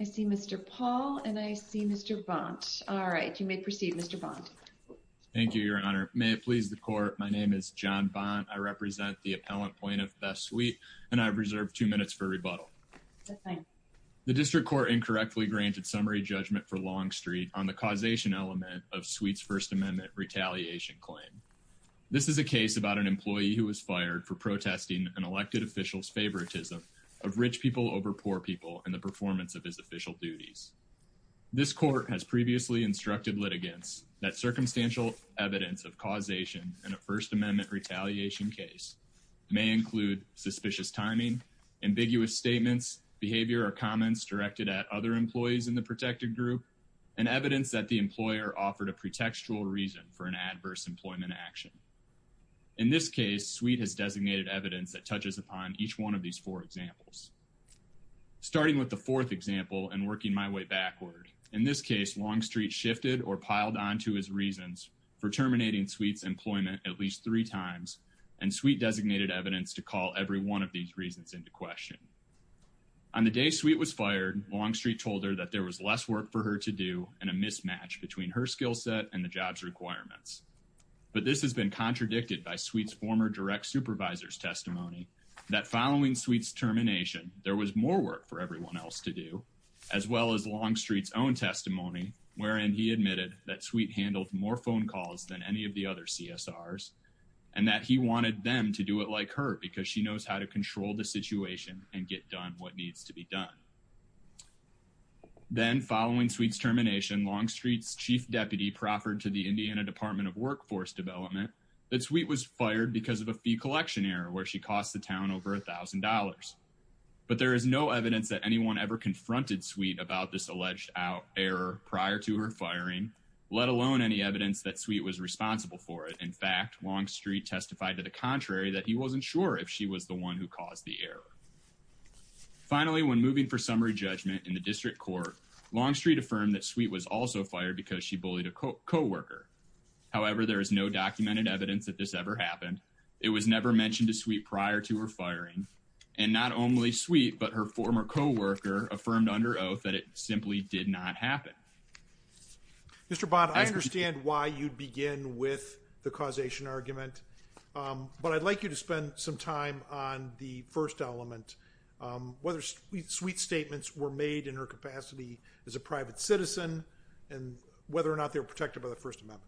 I see Mr. Paul and I see Mr. Bont, all right, you may proceed Mr. Bont. Thank you your honor, may it please the court, my name is John Bont, I represent the appellant plaintiff, Beth Sweet, and I've reserved two minutes for rebuttal. The district court incorrectly granted summary judgment for Longstreet on the causation element of Sweet's First Amendment retaliation claim. This is a case about an employee who was fired for protesting an elected official's favoritism of rich people over poor people in the performance of his official duties. This court has previously instructed litigants that circumstantial evidence of causation in a First Amendment retaliation case may include suspicious timing, ambiguous statements, behavior or comments directed at other employees in the protected group, and evidence that the employer offered a pretextual reason for an adverse employment action. In this case, Sweet has designated evidence that touches upon each one of these four examples. Starting with the fourth example and working my way backward, in this case Longstreet shifted or piled on to his reasons for terminating Sweet's employment at least three times and Sweet designated evidence to call every one of these reasons into question. On the day Sweet was fired, Longstreet told her that there was less work for her to do and a mismatch between her skill set and the job's requirements. But this has been contradicted by Sweet's former direct supervisor's testimony that following Sweet's termination there was more work for everyone else to do, as well as Longstreet's own testimony wherein he admitted that Sweet handled more phone calls than any of the other CSRs and that he wanted them to do it like her because she knows how to control the situation and get done what needs to be done. Then following Sweet's termination, Longstreet's chief deputy proffered to the Indiana Department of Workforce Development that Sweet was fired because of a fee collection error where she cost the town over $1,000. But there is no evidence that anyone ever confronted Sweet about this alleged error prior to her firing, let alone any evidence that Sweet was responsible for it. In fact, Longstreet testified to the contrary that he wasn't sure if she was the one who caused the error. Finally, when moving for summary judgment in the district court, Longstreet affirmed that Sweet was also fired because she bullied a co-worker. However, there is no documented evidence that this ever happened. It was never mentioned to Sweet prior to her firing. And not only Sweet, but her former co-worker affirmed under oath that it simply did not happen. Mr. Bond, I understand why you'd begin with the causation argument, but I'd like you to spend some time on the first element, whether Sweet's statements were made in her capacity as a private citizen and whether or not they were protected by the First Amendment.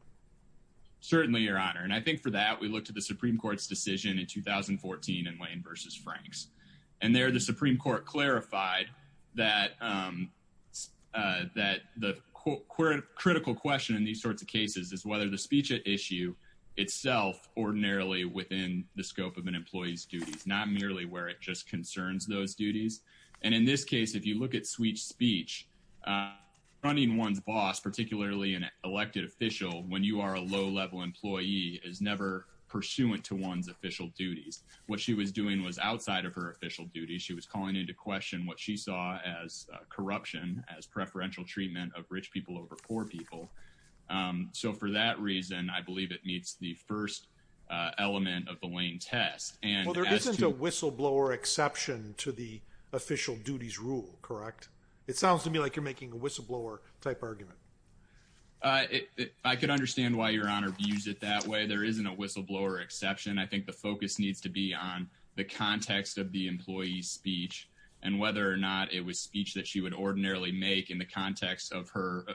Certainly, Your Honor. And I think for that, we looked at the Supreme Court's decision in 2014 in Wayne v. Franks. And there, the Supreme Court clarified that the critical question in these sorts of cases is whether the speech at issue itself ordinarily within the scope of an employee's duties, not merely where it just concerns those duties. And in this case, if you look at Sweet's speech, running one's boss, particularly an elected official, when you are a low-level employee, is never pursuant to one's official duties. What she was doing was outside of her official duties. She was calling into question what she saw as corruption, as preferential treatment of rich people over poor people. So for that reason, I believe it meets the first element of the Lane test. Well, there isn't a whistleblower exception to the official duties rule, correct? It sounds to me like you're making a whistleblower-type argument. I could understand why Your Honor views it that way. There isn't a whistleblower exception. I think the focus needs to be on the context of the employee's speech and whether or not it was speech that she would ordinarily make in the context of her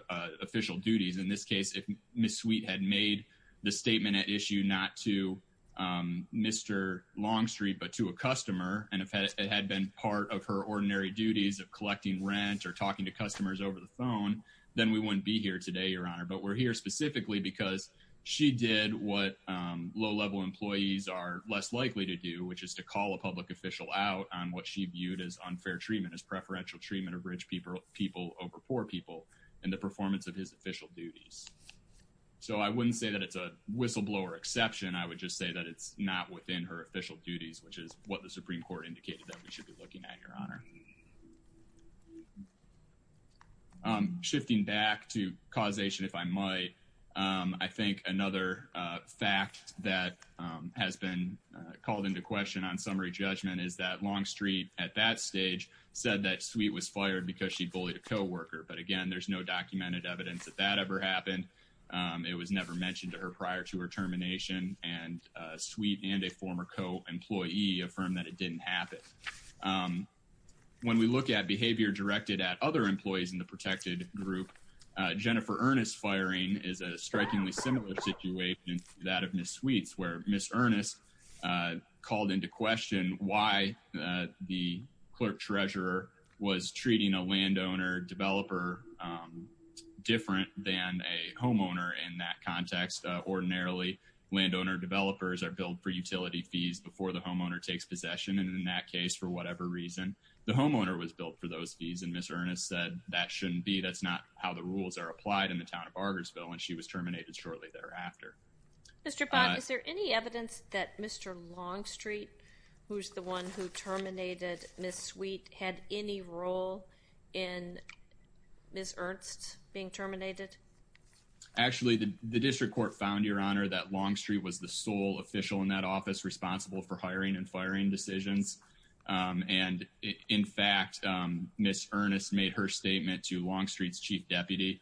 official duties. In this case, if Ms. Sweet had made the statement at issue not to Mr. Longstreet but to a customer and if it had been part of her ordinary duties of collecting rent or talking to customers over the phone, then we wouldn't be here today, Your Honor. But we're here specifically because she did what low-level employees are less likely to do, which is to call a public official out on what she viewed as unfair treatment, as preferential treatment of rich people over poor people, and the performance of his official duties. So I wouldn't say that it's a whistleblower exception. I would just say that it's not within her official duties, which is what the Supreme Court indicated that we should be looking at, Your Honor. Shifting back to causation, if I might, I think another fact that has been called into question on summary judgment is that Longstreet at that stage said that Sweet was fired because she bullied a coworker. But again, there's no documented evidence that that ever happened. It was never mentioned to her prior to her termination, and Sweet and a former co-employee affirmed that it didn't happen. When we look at behavior directed at other employees in the protected group, Jennifer Ernest firing is a strikingly similar situation to that of Ms. Sweet's, where Ms. Ernest called into question why the clerk-treasurer was treating a landowner developer different than a homeowner in that context. Ordinarily, landowner developers are billed for utility fees before the homeowner takes possession, and in that case, for whatever reason, the homeowner was billed for those fees, and Ms. Ernest said that shouldn't be. That's not how the rules are applied in the town of Argersville, and she was terminated shortly thereafter. Mr. Bond, is there any evidence that Mr. Longstreet, who's the one who terminated Ms. Sweet, had any role in Ms. Ernest being terminated? Actually, the district court found, Your Honor, that Longstreet was the sole official in that office responsible for hiring and firing decisions, and in fact, Ms. Ernest made her statement to Longstreet's chief deputy,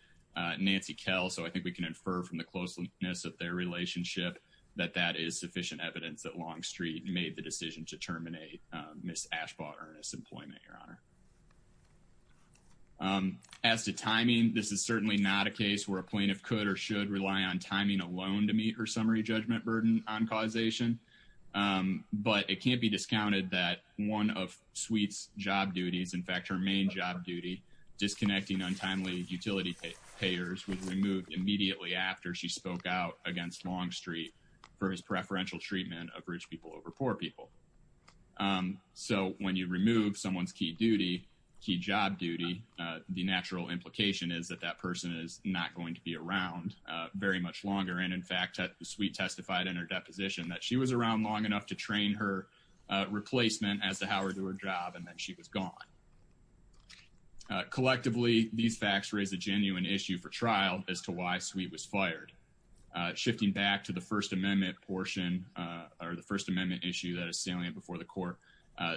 Nancy Kell, so I think we can infer from the closeness of their relationship that that is sufficient evidence that Longstreet made the decision to terminate Ms. Ashbaugh Ernest's employment, Your Honor. As to timing, this is certainly not a case where a plaintiff could or should rely on timing alone to meet her summary judgment burden on causation, but it can't be discounted that one of Sweet's job duties, in fact, her main job duty, disconnecting untimely utility payers, was removed immediately after she spoke out against Longstreet for his preferential treatment of rich people over poor people. So when you remove someone's key duty, key job duty, the natural implication is that that person is not going to be around very much longer, and in fact, Sweet testified in her deposition that she was around long enough to train her replacement as to how to do her job, and then she was gone. Collectively, these facts raise a genuine issue for trial as to why Sweet was fired. Shifting back to the First Amendment portion, or the First Amendment issue that is salient before the court,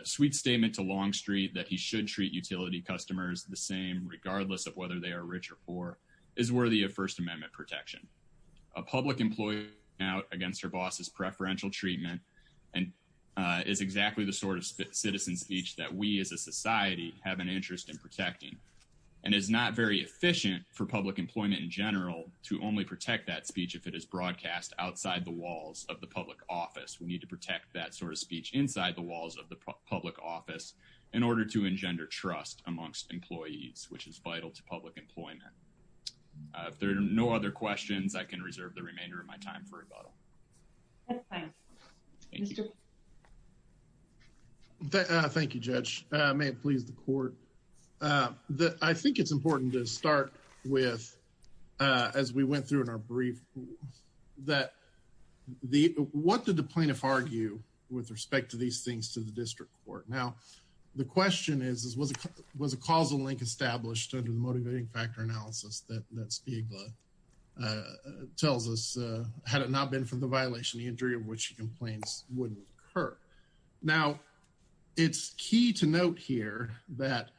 Sweet's statement to Longstreet that he should treat utility customers the same regardless of whether they are rich or poor is worthy of First Amendment protection. A public employee going out against her boss's preferential treatment is exactly the sort of citizen speech that we as a society have an interest in protecting, and it's not very that speech if it is broadcast outside the walls of the public office. We need to protect that sort of speech inside the walls of the public office in order to engender trust amongst employees, which is vital to public employment. If there are no other questions, I can reserve the remainder of my time for rebuttal. Thank you, Judge. May it please the court. I think it's important to start with, as we went through in our brief, that what did the plaintiff argue with respect to these things to the district court? Now, the question is, was a causal link established under the motivating factor analysis that Spiegel tells us had it not been for the violation, the injury of which she complains wouldn't occur. Now, it's key to note here that,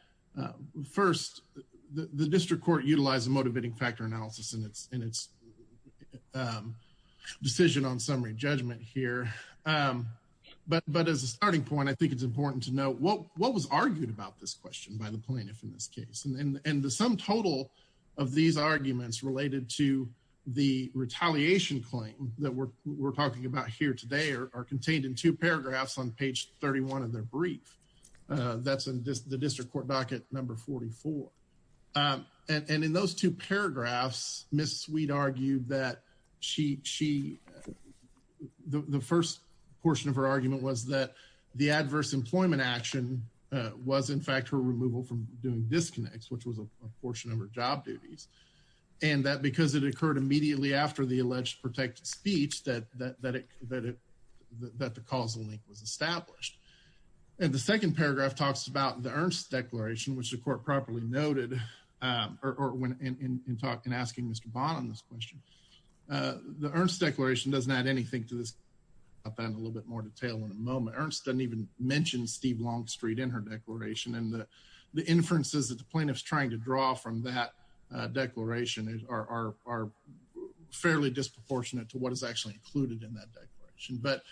first, the district court utilized the motivating factor analysis in its decision on summary judgment here, but as a starting point, I think it's important to know what was argued about this question by the plaintiff in this case, and the sum total of these arguments related to the retaliation claim that we're talking about here today are contained in two paragraphs on page 31 of their brief. That's in the district court docket number 44. And in those two paragraphs, Ms. Sweet argued that she, the first portion of her argument was that the adverse employment action was, in fact, her removal from doing disconnects, which was a portion of her job duties, and that because it occurred immediately after the alleged protected speech that the causal link was established. And the second paragraph talks about the Ernst declaration, which the court properly noted in asking Mr. Bond on this question. The Ernst declaration doesn't add anything to this. I'll talk about that in a little bit more detail in a moment. Ernst doesn't even mention Steve Longstreet in her declaration, and the inferences that come from that declaration are fairly disproportionate to what is actually included in that declaration. But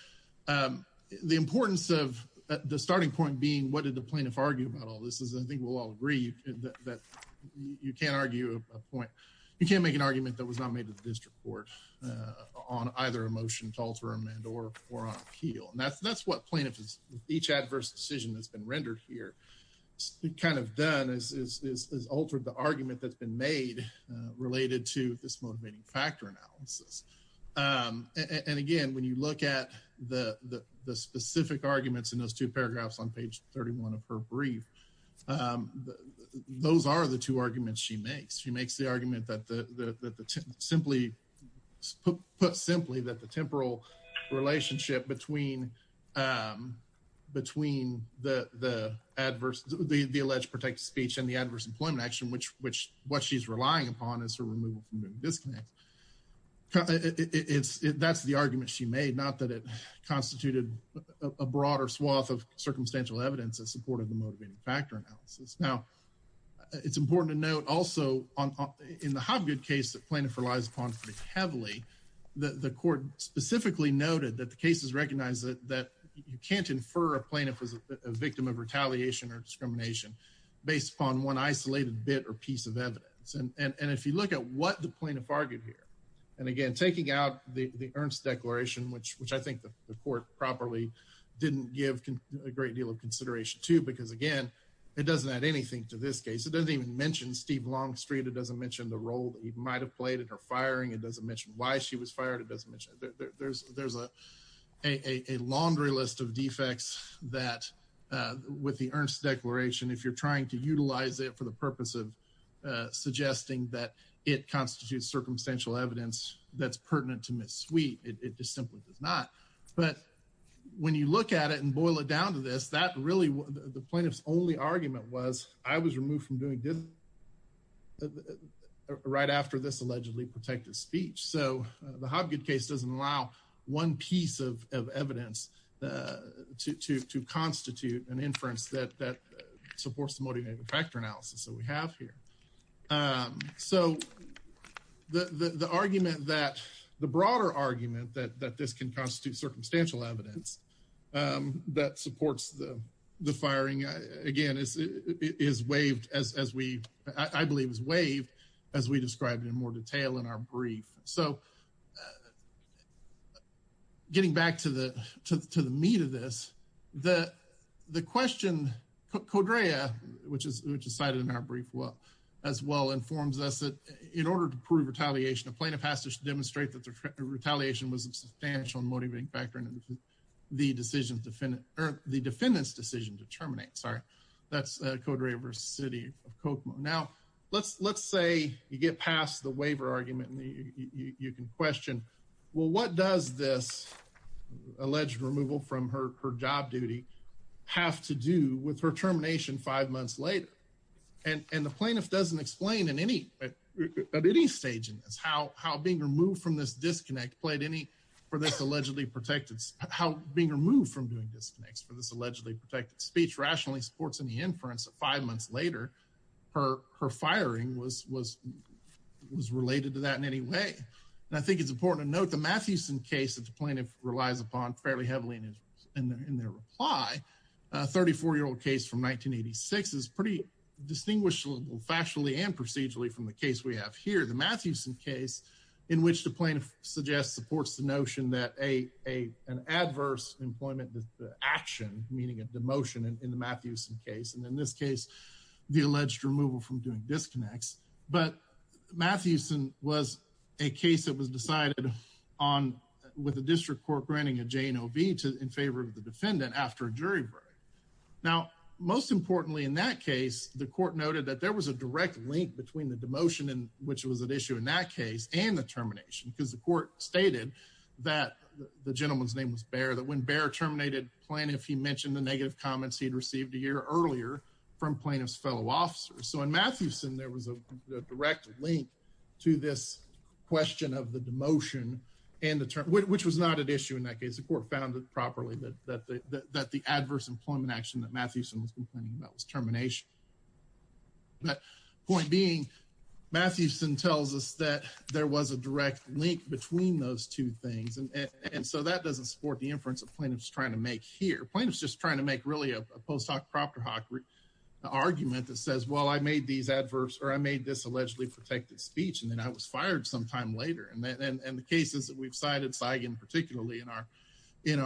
the importance of the starting point being, what did the plaintiff argue about all this is, I think we'll all agree that you can't argue a point, you can't make an argument that was not made to the district court on either a motion to alter amendment or on appeal. And that's what plaintiffs, with each adverse decision that's been rendered here, kind of done is altered the argument that's been made related to this motivating factor analysis. And again, when you look at the specific arguments in those two paragraphs on page 31 of her brief, those are the two arguments she makes. She makes the argument that simply, put simply, that the temporal relationship between the adverse, the alleged protected speech and the adverse employment action, which what she's relying upon is her removal from moving disclaims. That's the argument she made, not that it constituted a broader swath of circumstantial evidence that supported the motivating factor analysis. Now, it's important to note also, in the Hobgood case that plaintiff relies upon pretty heavily, the court specifically noted that the case has recognized that you can't infer a plaintiff is a victim of retaliation or discrimination based upon one isolated bit or piece of evidence. And if you look at what the plaintiff argued here, and again, taking out the Ernst declaration, which I think the court properly didn't give a great deal of consideration to, because again, it doesn't add anything to this case. It doesn't even mention Steve Longstreet. It doesn't mention the role that he might have played in her firing. It doesn't mention why she was fired. It doesn't mention there's a laundry list of defects that with the Ernst declaration, if you're trying to utilize it for the purpose of suggesting that it constitutes circumstantial evidence that's pertinent to Ms. Sweet, it just simply does not. But when you look at it and boil it down to this, that really, the plaintiff's only argument was I was removed from doing this right after this allegedly protected speech. So the Hobgood case doesn't allow one piece of evidence to constitute an inference that supports the motivating factor analysis that we have here. So the argument that, the broader argument that this can constitute circumstantial evidence that supports the firing, again, is waived as we, I believe is waived as we described in more detail in our brief. So getting back to the meat of this, the question, Codrea, which is cited in our brief as well informs us that in order to prove retaliation, a plaintiff has to demonstrate that the retaliation was a substantial and motivating factor in the defendant's decision to terminate. That's Codrea v. City of Kokomo. Now, let's say you get past the waiver argument and you can question, well, what does this alleged removal from her job duty have to do with her termination five months later? And the plaintiff doesn't explain in any, at any stage in this, how being removed from this disconnect played any, for this allegedly protected, how being removed from doing disconnects for this allegedly protected speech rationally supports any inference that five months later her firing was related to that in any way. And I think it's important to note the Mathewson case that the plaintiff relies upon fairly heavily in their reply, a 34-year-old case from 1986 is pretty distinguishable factually and procedurally from the case we have here. The Mathewson case in which the plaintiff suggests supports the notion that an adverse employment action, meaning a demotion in the Mathewson case. And in this case, the alleged removal from doing disconnects, but Mathewson was a case that was decided on with the district court granting a J and O V in favor of the defendant after a jury break. Now, most importantly, in that case, the court noted that there was a direct link between the demotion in which it was an issue in that case and the termination, because the court stated that the gentleman's name was Bear, that when Bear terminated plaintiff, he mentioned the negative comments he'd received a year earlier from plaintiff's fellow officers. So in Mathewson, there was a direct link to this question of the demotion and the term, which was not an issue in that case. The court found it properly that the adverse employment action that Mathewson was complaining about was termination. But point being, Mathewson tells us that there was a direct link between those two things. And so that doesn't support the inference of plaintiffs trying to make here. Plaintiffs just trying to make really a post hoc propter hoc argument that says, well, I made these adverbs or I made this allegedly protected speech, and then I was fired sometime later. And the cases that we've cited, Saigon particularly, in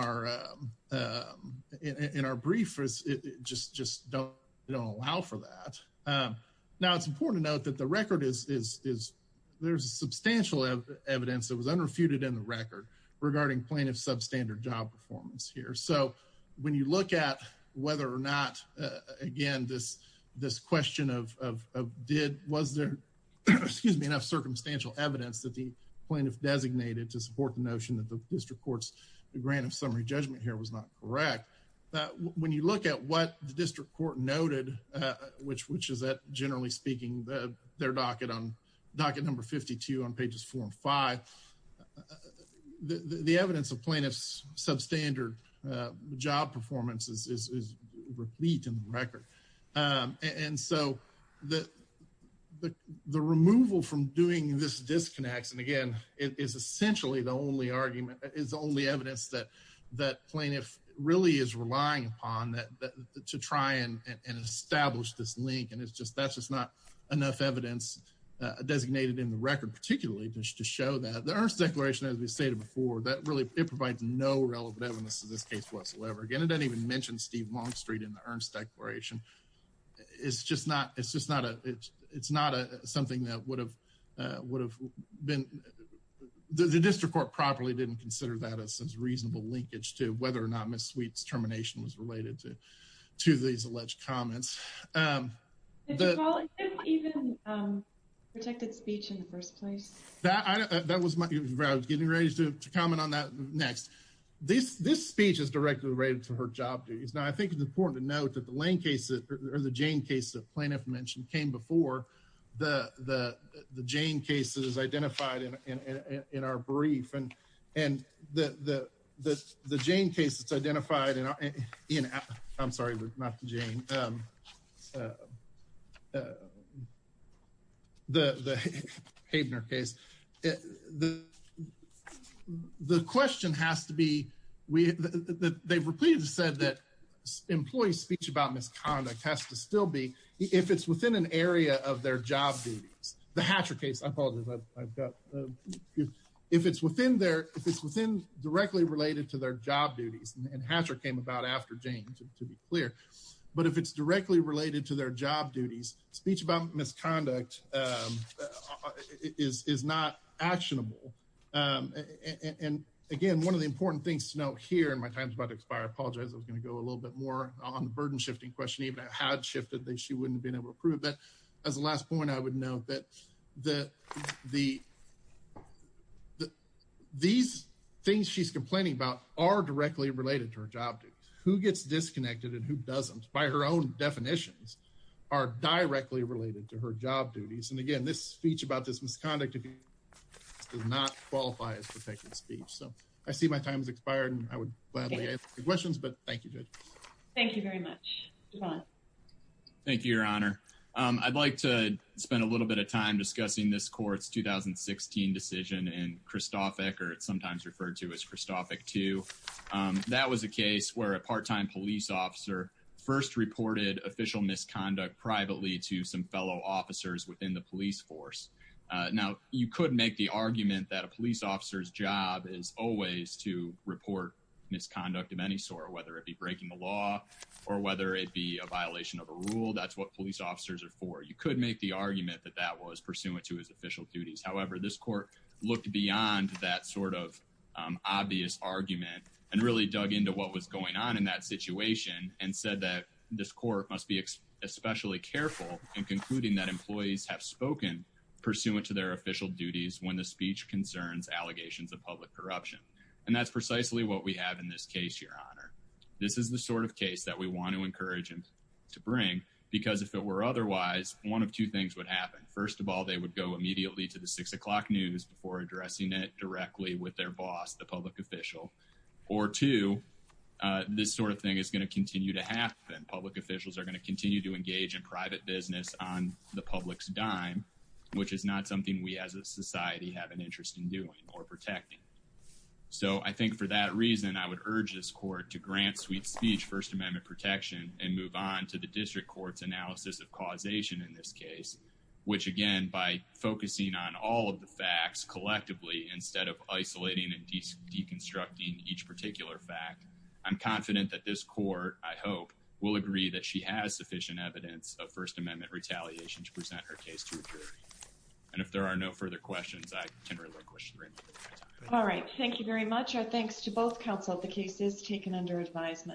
our brief, just don't allow for that. Now, it's important to note that the record is, there's substantial evidence that was unrefuted in the record regarding plaintiff's substandard job performance here. So when you look at whether or not, again, this question of did, was there, excuse me, enough circumstantial evidence that the plaintiff designated to support the notion that the district court's grant of summary judgment here was not correct. When you look at what the district court noted, which is that generally speaking, their docket on docket number 52 on pages four and five, the evidence of plaintiff's substandard job performance is replete in the record. And so the removal from doing this disconnects, and again, it is essentially the only argument, is the only evidence that plaintiff really is relying upon to try and establish this enough evidence designated in the record, particularly just to show that the earnest declaration, as we stated before, that really, it provides no relevant evidence to this case whatsoever. Again, it doesn't even mention Steve Longstreet in the earnest declaration. It's just not, it's just not a, it's not something that would have, would have been, the district court properly didn't consider that as a reasonable linkage to whether or not Ms. Sweet's termination was related to, to these alleged comments. Did you call it even protected speech in the first place? That, I don't, that was my, I was getting ready to comment on that next. This, this speech is directly related to her job duties. Now, I think it's important to note that the Lane case or the Jane case that plaintiff mentioned came before the, the, the Jane case that is identified in, in, in our brief. And, and the, the, the, the Jane case that's identified in our, in, I'm sorry, not the the, the Haebner case. The, the question has to be, we, they've repeatedly said that employee speech about misconduct has to still be, if it's within an area of their job duties, the Hatcher case, I apologize, I've got, if it's within their, if it's within, directly related to their job duties, and Hatcher came about after Jane, to be clear. But if it's directly related to their job duties, speech about misconduct is, is not actionable. And again, one of the important things to note here, and my time's about to expire, I apologize, I was going to go a little bit more on the burden shifting question, even I had shifted that she wouldn't have been able to prove that. As a last point, I would note that the, the, the, these things she's complaining about are directly related to her job duties. Who gets disconnected and who doesn't, by her own definitions, are directly related to her job duties. And again, this speech about this misconduct does not qualify as protected speech. So, I see my time has expired and I would gladly answer your questions, but thank you, Judge. Thank you very much. Thank you, Your Honor. I'd like to spend a little bit of time discussing this court's 2016 decision in Christoffick, or it's sometimes referred to as Christoffick 2. That was a case where a part-time police officer first reported official misconduct privately to some fellow officers within the police force. Now, you could make the argument that a police officer's job is always to report misconduct of any sort, whether it be breaking the law or whether it be a violation of a rule. That's what police officers are for. You could make the argument that that was pursuant to his official duties. However, this court looked beyond that sort of obvious argument and really dug into what was going on in that situation and said that this court must be especially careful in concluding that employees have spoken pursuant to their official duties when the speech concerns allegations of public corruption. And that's precisely what we have in this case, Your Honor. This is the sort of case that we want to encourage them to bring because if it were otherwise, one of two things would happen. First of all, they would go immediately to the 6 o'clock news before addressing it directly with their boss, the public official. Or two, this sort of thing is going to continue to happen. Public officials are going to continue to engage in private business on the public's dime, which is not something we as a society have an interest in doing or protecting. So, I think for that reason, I would urge this court to grant Sweet Speech First Amendment protection and move on to the district court's analysis of causation in this case, which, again, by focusing on all of the facts collectively instead of isolating and deconstructing each particular fact, I'm confident that this court, I hope, will agree that she has sufficient evidence of First Amendment retaliation to present her case to a jury. And if there are no further questions, I can relinquish the room. All right. Thank you very much. Our thanks to both counsel. The case is taken under advisement.